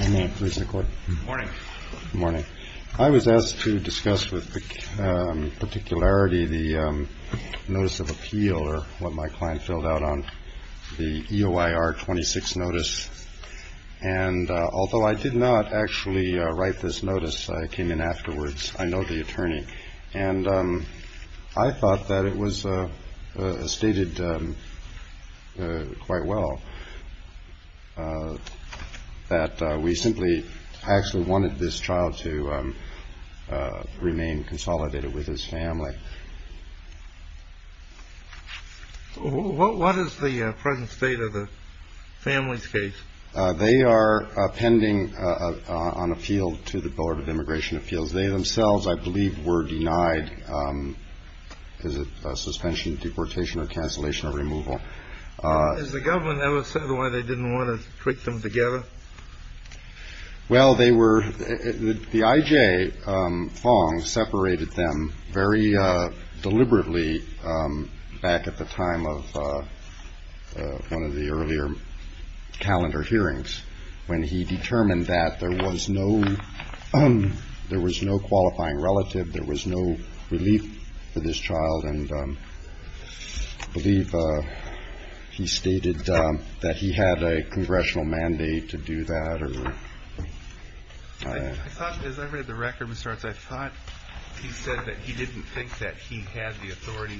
Good morning. I was asked to discuss with particularity the Notice of Appeal, or what my client filled out on, the EOIR 26 Notice, and although I did not actually write this notice, I came in afterwards, I know the attorney, and I thought that it was stated quite well. That we simply actually wanted this child to remain consolidated with his family. What is the present state of the family's case? They are pending an appeal to the Board of Immigration Appeals. They themselves, I believe, were denied suspension, deportation, or cancellation, or removal. Has the government ever said why they didn't want to put them together? Well, they were, the I.J. Fong separated them very deliberately back at the time of one of the earlier calendar hearings, when he determined that there was no qualifying relative, there was no relief for this child, and I believe he stated that he had a congressional mandate to do that. I thought, as I read the record, Mr. Arts, I thought he said that he didn't think that he had the authority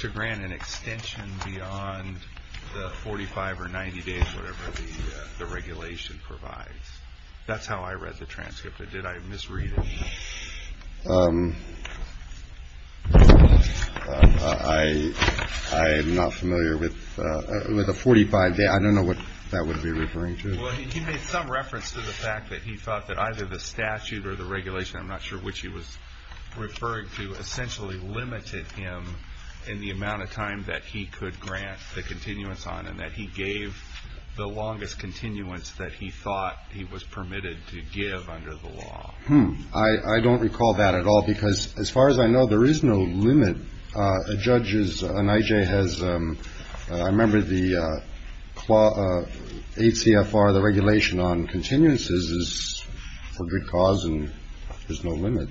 to grant an extension beyond the 45 or 90 days, whatever the regulation provides. That's how I read the transcript. Did I misread it? I am not familiar with the 45 days. I don't know what that would be referring to. Well, he made some reference to the fact that he thought that either the statute or the regulation, I'm not sure which he was referring to, essentially limited him in the amount of time that he could grant the continuance on, and that he gave the longest continuance that he thought he was permitted to give under the law. Hmm. I don't recall that at all, because as far as I know, there is no limit. A judge is an I.J. has. I remember the ACF for the regulation on continuances is for good cause and there's no limit.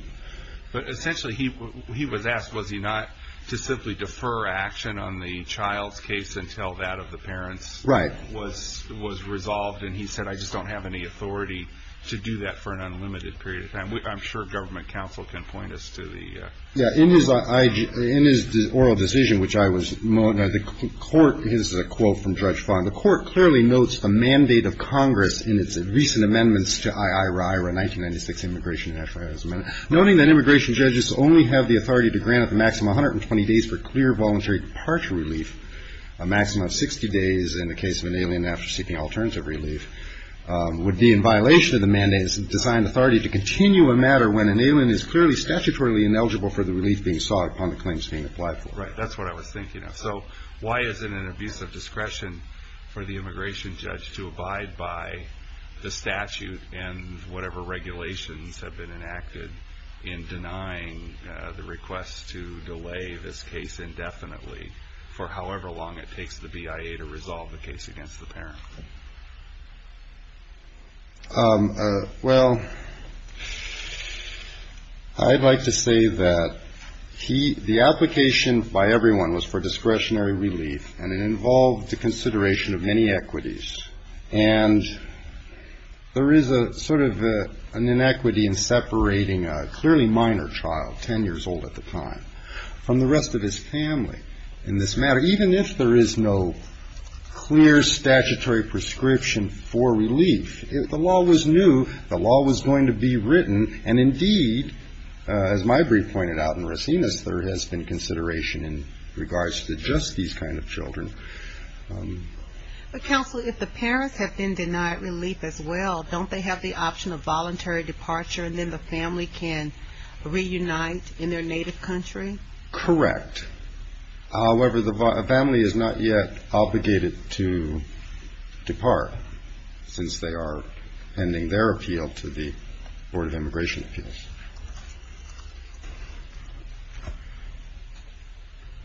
But essentially he he was asked, was he not to simply defer action on the child's case until that of the parents? Right. Was was resolved. And he said, I just don't have any authority to do that for an unlimited period of time. I'm sure government counsel can point us to the. Yeah. In his in his oral decision, which I was the court is a quote from Judge Fon. The court clearly notes the mandate of Congress in its recent amendments to I.I. Rye 1996 Immigration Act. Noting that immigration judges only have the authority to grant a maximum 120 days for clear voluntary departure relief, a maximum of 60 days in the case of an alien after seeking alternative relief would be in violation of the mandates and designed authority to continue a matter when an alien is clearly statutorily ineligible for the relief being sought upon the claims being applied for. Right. That's what I was thinking. So why is it an abuse of discretion for the immigration judge to abide by the statute? And whatever regulations have been enacted in denying the request to delay this case indefinitely for however long it takes the BIA to resolve the case against the parent? Well, I'd like to say that he the application by everyone was for discretionary relief and it involved the consideration of many equities. And there is a sort of an inequity in separating a clearly minor child, 10 years old at the time, from the rest of his family in this matter. Even if there is no clear statutory prescription for relief, if the law was new, the law was going to be written. And indeed, as my brief pointed out in Rosinas, there has been consideration in regards to just these kind of children. But counsel, if the parents have been denied relief as well, don't they have the option of voluntary departure and then the family can reunite in their native country? Correct. However, the family is not yet obligated to depart since they are pending their appeal to the Board of Immigration Appeals.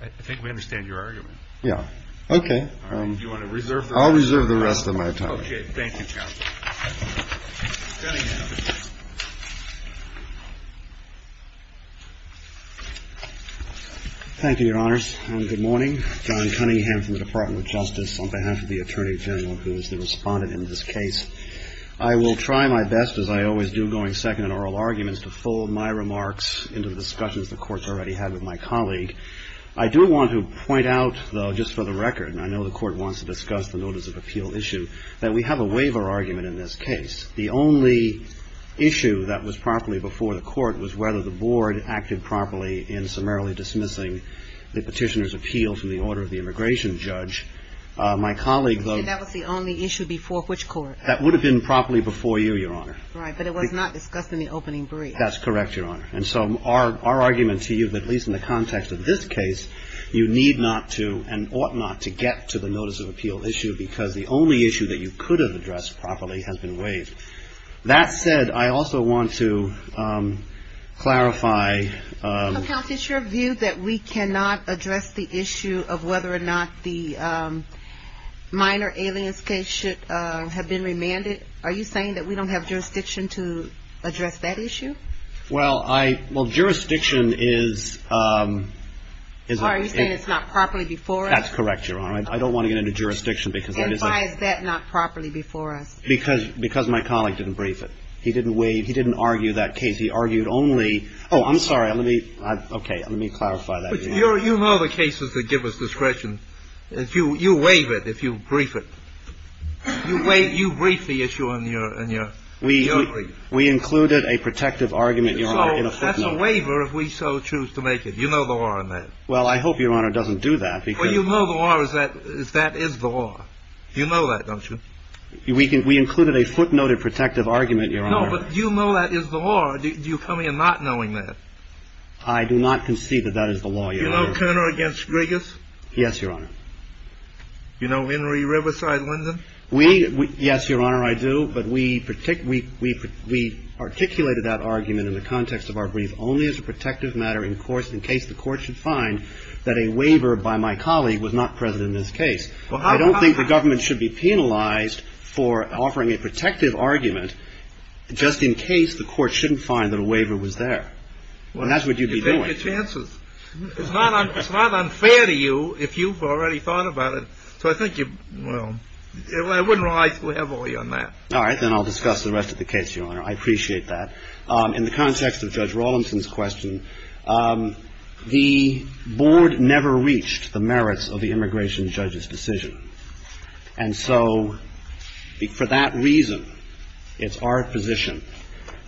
I think we understand your argument. Yeah. Okay. All right. Do you want to reserve? I'll reserve the rest of my time. Okay. Thank you, counsel. Cunningham. Thank you, Your Honors. Good morning. John Cunningham from the Department of Justice on behalf of the Attorney General, who is the respondent in this case. I will try my best, as I always do, going second in oral arguments, to fold my remarks into the discussions the Court's already had with my colleague. I do want to point out, though, just for the record, and I know the Court wants to discuss the notice of appeal issue, that we have a waiver argument in this case. The only issue that was properly before the Court was whether the Board acted properly in summarily dismissing the petitioner's appeal from the order of the immigration judge. My colleague, though — And that was the only issue before which court? That would have been properly before you, Your Honor. Right. But it was not discussed in the opening brief. That's correct, Your Honor. And so our argument to you, at least in the context of this case, you need not to and ought not to get to the notice of appeal issue because the only issue that you could have addressed properly has been waived. That said, I also want to clarify — minor aliens case should have been remanded. Are you saying that we don't have jurisdiction to address that issue? Well, I — well, jurisdiction is — Are you saying it's not properly before us? That's correct, Your Honor. I don't want to get into jurisdiction because that is a — And why is that not properly before us? Because my colleague didn't brief it. He didn't waive — he didn't argue that case. He argued only — oh, I'm sorry. Let me — okay, let me clarify that. You know the cases that give us discretion. You waive it if you brief it. You brief the issue in your brief. We included a protective argument, Your Honor, in a footnote. So that's a waiver if we so choose to make it. You know the law on that. Well, I hope, Your Honor, it doesn't do that because — Well, you know the law is that — that is the law. You know that, don't you? We included a footnoted protective argument, Your Honor. No, but you know that is the law. Do you come here not knowing that? I do not concede that that is the law, Your Honor. Do you know Turner against Griggis? Yes, Your Honor. Do you know Henry Riverside-Lyndon? We — yes, Your Honor, I do. But we — we articulated that argument in the context of our brief only as a protective matter in course — in case the Court should find that a waiver by my colleague was not present in this case. I don't think the government should be penalized for offering a protective argument just in case the Court shouldn't find that a waiver was there. Well, that's what you'd be doing. You take your chances. It's not unfair to you if you've already thought about it. So I think you — well, I wouldn't rely heavily on that. All right, then I'll discuss the rest of the case, Your Honor. I appreciate that. In the context of Judge Rawlimson's question, the board never reached the merits of the immigration judge's decision. And so for that reason, it's our position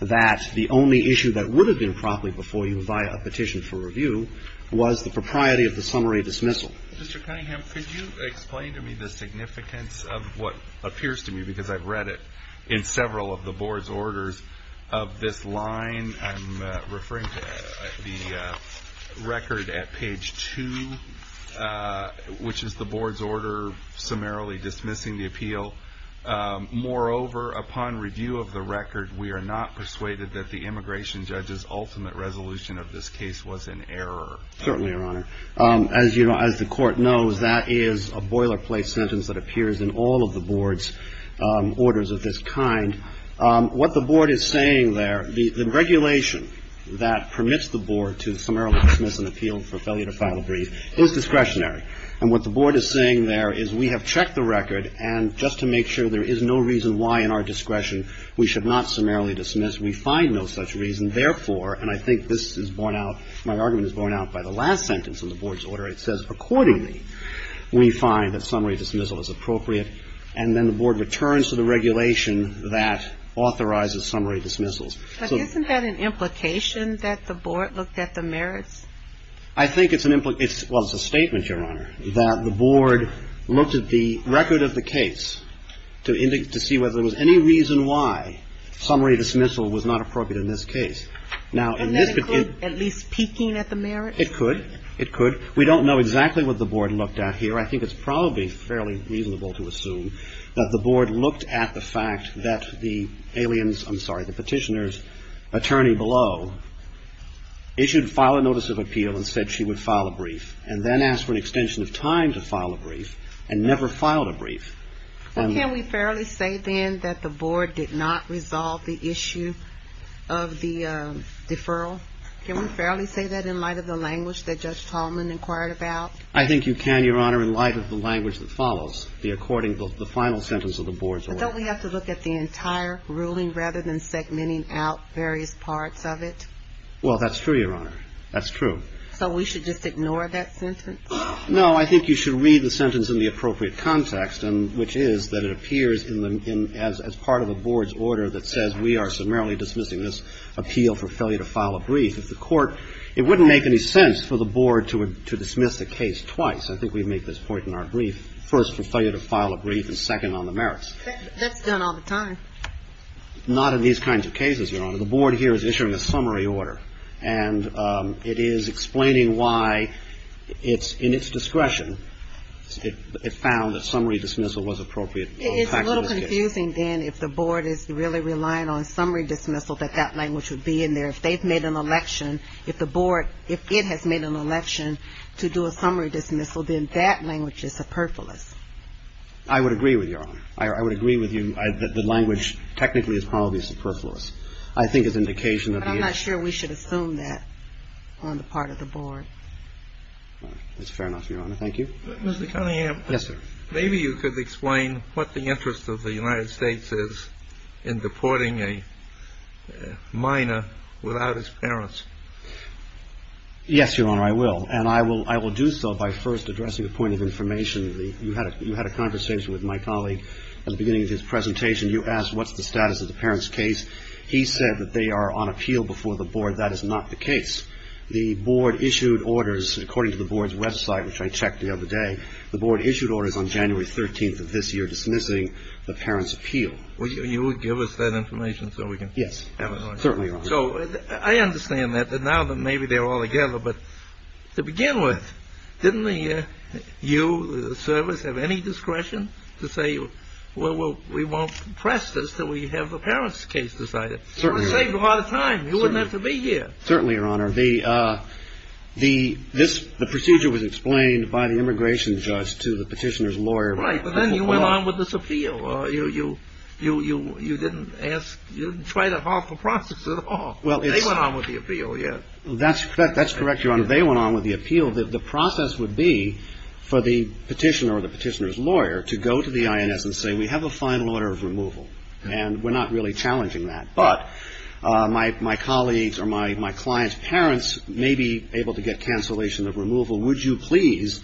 that the only issue that would have been promptly before you via a petition for review was the propriety of the summary dismissal. Mr. Cunningham, could you explain to me the significance of what appears to me, because I've read it in several of the board's orders, of this line? I'm referring to the record at page 2, which is the board's order summarily dismissing the appeal. Moreover, upon review of the record, we are not persuaded that the immigration judge's ultimate resolution of this case was an error. Certainly, Your Honor. As the Court knows, that is a boilerplate sentence that appears in all of the board's orders of this kind. What the board is saying there, the regulation that permits the board to summarily dismiss an appeal for failure to file a brief is discretionary. And what the board is saying there is we have checked the record, and just to make sure there is no reason why in our discretion we should not summarily dismiss, we find no such reason. Therefore, and I think this is borne out, my argument is borne out by the last sentence in the board's order. It says, accordingly, we find that summary dismissal is appropriate. And then the board returns to the regulation that authorizes summary dismissals. But isn't that an implication that the board looked at the merits? I think it's an implication. Well, it's a statement, Your Honor, that the board looked at the record of the case to see whether there was any reason why summary dismissal was not appropriate in this case. And that included at least peeking at the merits? It could. It could. We don't know exactly what the board looked at here. I think it's probably fairly reasonable to assume that the board looked at the fact that the petitioner's attorney below issued file a notice of appeal and said she would file a brief, and then asked for an extension of time to file a brief, and never filed a brief. Can we fairly say, then, that the board did not resolve the issue of the deferral? Can we fairly say that in light of the language that Judge Tallman inquired about? I think you can, Your Honor, in light of the language that follows the final sentence of the board's order. But don't we have to look at the entire ruling rather than segmenting out various parts of it? Well, that's true, Your Honor. That's true. So we should just ignore that sentence? No. I think you should read the sentence in the appropriate context, which is that it appears as part of a board's order that says we are summarily I think we've made this point in our brief. First, for failure to file a brief, and second, on the merits. That's done all the time. Not in these kinds of cases, Your Honor. The board here is issuing a summary order, and it is explaining why it's in its discretion. It found that summary dismissal was appropriate. It is a little confusing, then, if the board is really relying on summary dismissal, that that language would be in there. If they've made an election, if the board, if it has made an election to do a summary dismissal, then that language is superfluous. I would agree with you, Your Honor. I would agree with you that the language technically is probably superfluous. I think it's an indication of the issue. But I'm not sure we should assume that on the part of the board. That's fair enough, Your Honor. Thank you. Mr. Cunningham. Yes, sir. Maybe you could explain what the interest of the United States is in deporting a minor without his parents. Yes, Your Honor, I will. And I will do so by first addressing a point of information. You had a conversation with my colleague at the beginning of his presentation. You asked what's the status of the parents' case. He said that they are on appeal before the board. That is not the case. The board issued orders, according to the board's website, which I checked the other day, the board issued orders on January 13th of this year dismissing the parents' appeal. Will you give us that information so we can have it? Yes, certainly, Your Honor. So I understand that now that maybe they're all together. But to begin with, didn't you, the service, have any discretion to say, well, we won't press this until we have the parents' case decided? Certainly, Your Honor. It would save a lot of time. You wouldn't have to be here. Certainly, Your Honor. The procedure was explained by the immigration judge to the petitioner's lawyer. Right, but then you went on with this appeal. You didn't ask, you didn't try that awful process at all. They went on with the appeal, yes. That's correct, Your Honor. They went on with the appeal. The process would be for the petitioner or the petitioner's lawyer to go to the INS and say, we have a final order of removal, and we're not really challenging that. But my colleagues or my client's parents may be able to get cancellation of removal. Would you please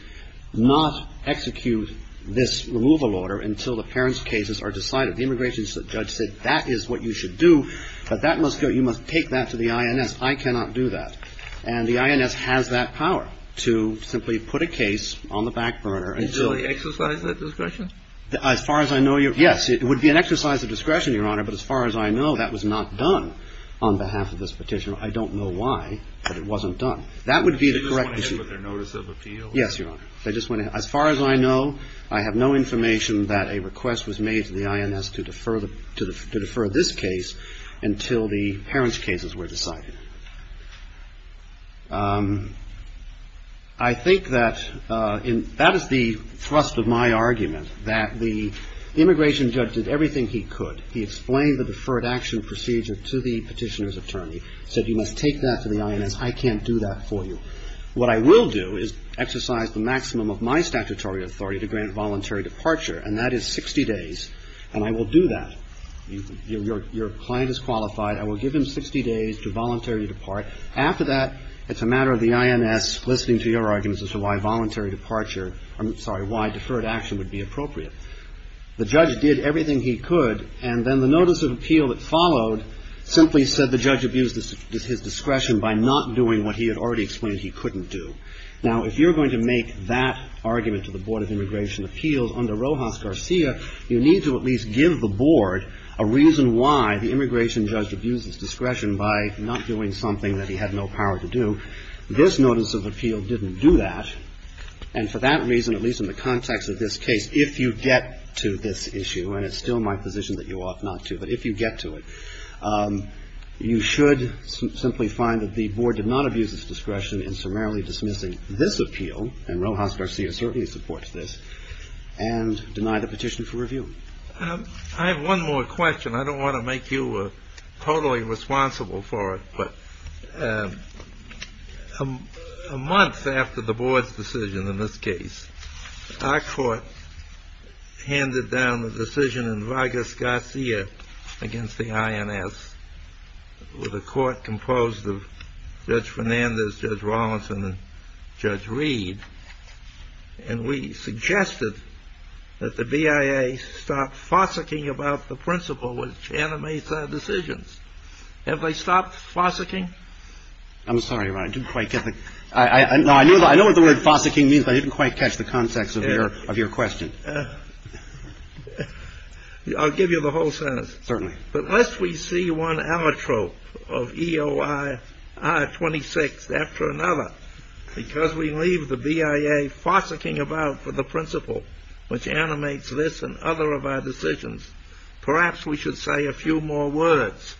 not execute this removal order until the parents' cases are decided? The immigration judge said, that is what you should do, but that must go, you must take that to the INS. I cannot do that. And the INS has that power to simply put a case on the back burner. Did you really exercise that discretion? As far as I know, yes, it would be an exercise of discretion, Your Honor. But as far as I know, that was not done on behalf of this petitioner. I don't know why, but it wasn't done. That would be the correct decision. Did they just went ahead with their notice of appeal? Yes, Your Honor. They just went ahead. As far as I know, I have no information that a request was made to the INS to defer this case until the parents' cases were decided. I think that that is the thrust of my argument, that the immigration judge did everything he could. He explained the deferred action procedure to the petitioner's attorney, said you must take that to the INS. I can't do that for you. What I will do is exercise the maximum of my statutory authority to grant voluntary departure, and that is 60 days. And I will do that. Your client is qualified. I will give him 60 days to voluntarily depart. After that, it's a matter of the INS listening to your arguments as to why voluntary departure, I'm sorry, why deferred action would be appropriate. The judge did everything he could. And then the notice of appeal that followed simply said the judge abused his discretion by not doing what he had already explained he couldn't do. Now, if you're going to make that argument to the Board of Immigration Appeals under Rojas Garcia, you need to at least give the Board a reason why the immigration judge abused his discretion by not doing something that he had no power to do. This notice of appeal didn't do that. And for that reason, at least in the context of this case, if you get to this issue, and it's still my position that you ought not to, but if you get to it, you should simply find that the Board did not abuse its discretion in summarily dismissing this appeal, and Rojas Garcia certainly supports this, and deny the petition for review. I have one more question. I don't want to make you totally responsible for it, but a month after the Board's decision in this case, our court handed down the decision in Rojas Garcia against the INS with a court composed of Judge Fernandez, Judge Rawlinson, and Judge Reed. And we suggested that the BIA stop fossicking about the principle which animates our decisions. Have they stopped fossicking? I'm sorry, Ron. I didn't quite get the... No, I know what the word fossicking means, but I didn't quite catch the context of your question. I'll give you the whole sentence. Certainly. But lest we see one ametrope of EOI R26 after another, because we leave the BIA fossicking about for the principle which animates this and other of our decisions, perhaps we should say a few more words.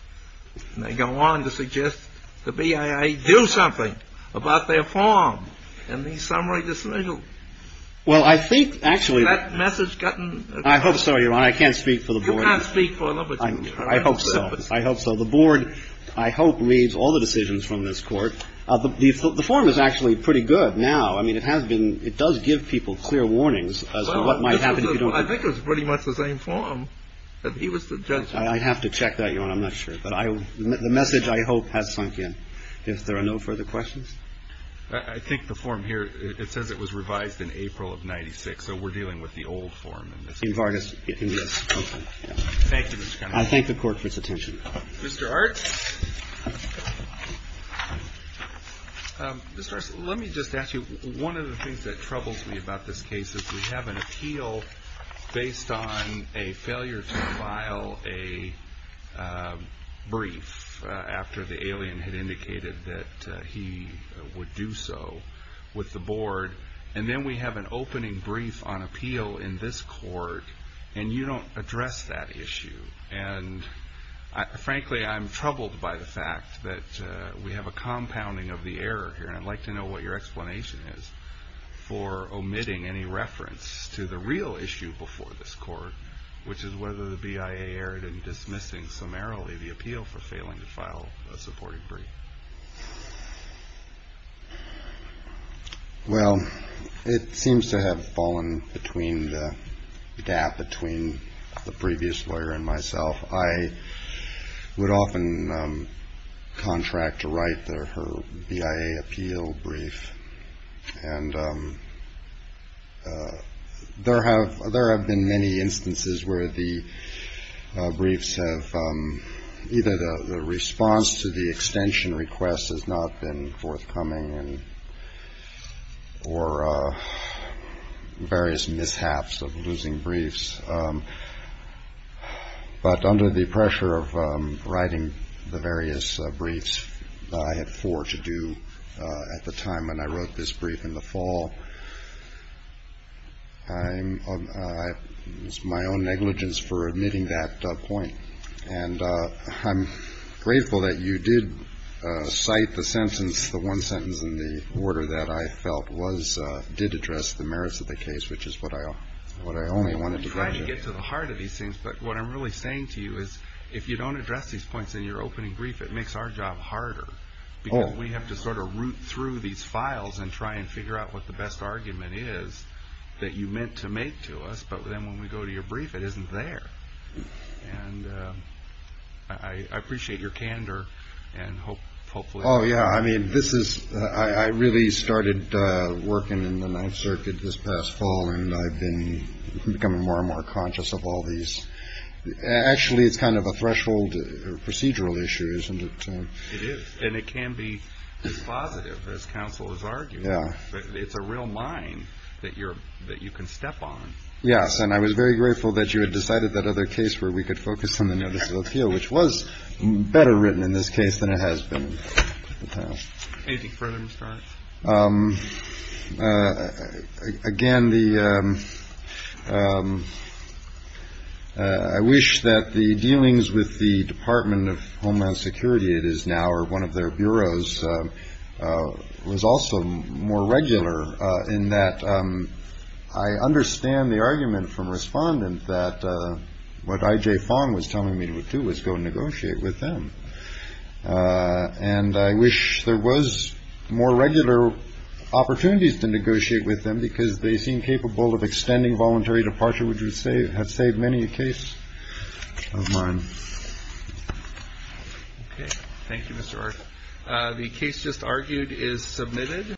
They go on to suggest the BIA do something about their form in the summary dismissal. Well, I think, actually... Has that message gotten... I hope so, Ron. I can't speak for the Board. I hope so. I hope so. The Board, I hope, reads all the decisions from this court. The form is actually pretty good now. I mean, it has been... It does give people clear warnings as to what might happen if you don't... I think it was pretty much the same form. He was the judge... I'd have to check that, your Honor. I'm not sure. But the message, I hope, has sunk in. If there are no further questions? I think the form here, it says it was revised in April of 96, so we're dealing with the old form. In Vargas? Yes. Thank you, Mr. Connolly. I thank the Court for its attention. Mr. Arts? Mr. Arts, let me just ask you, one of the things that troubles me about this case is we have an appeal based on a failure to file a brief after the alien had indicated that he would do so with the Board, and then we have an opening brief on appeal in this court, and you don't address that issue. And frankly, I'm troubled by the fact that we have a compounding of the error here, and I'd like to know what your explanation is for omitting any reference to the real issue before this court, which is whether the BIA erred in dismissing summarily the appeal for failing to file a supporting brief. Well, it seems to have fallen between the gap between the previous lawyer and myself. I would often contract to write her BIA appeal brief, and there have been many instances where the briefs have either the response to the extension of the appeal, and request has not been forthcoming, or various mishaps of losing briefs. But under the pressure of writing the various briefs that I had four to do at the time when I wrote this brief in the fall, it was my own negligence for omitting that point. And I'm grateful that you did cite the sentence, the one sentence in the order that I felt did address the merits of the case, which is what I only wanted to get to. We're trying to get to the heart of these things, but what I'm really saying to you is, if you don't address these points in your opening brief, it makes our job harder, because we have to sort of root through these files and try and figure out what the best argument is that you meant to make to us, but then when we go to your brief, it isn't there. And I appreciate your candor, and hopefully... Oh, yeah, I mean, this is, I really started working in the Ninth Circuit this past fall, and I've been becoming more and more conscious of all these. Actually, it's kind of a threshold procedural issue, isn't it? It is, and it can be as positive as counsel is arguing. Yeah. It's a real mine that you can step on. Yes, and I was very grateful that you had decided that other case where we could focus on the notice of appeal, which was better written in this case than it has been at the time. Anything further, Mr. Arnott? Again, I wish that the dealings with the Department of Homeland Security, it is now, or one of their bureaus was also more regular in that. I understand the argument from respondent that what IJ Fong was telling me to do was go negotiate with them. And I wish there was more regular opportunities to negotiate with them because they seem capable of extending voluntary departure, which would say have saved many a case of mine. Okay. Thank you, Mr. Arnott. The case just argued is submitted.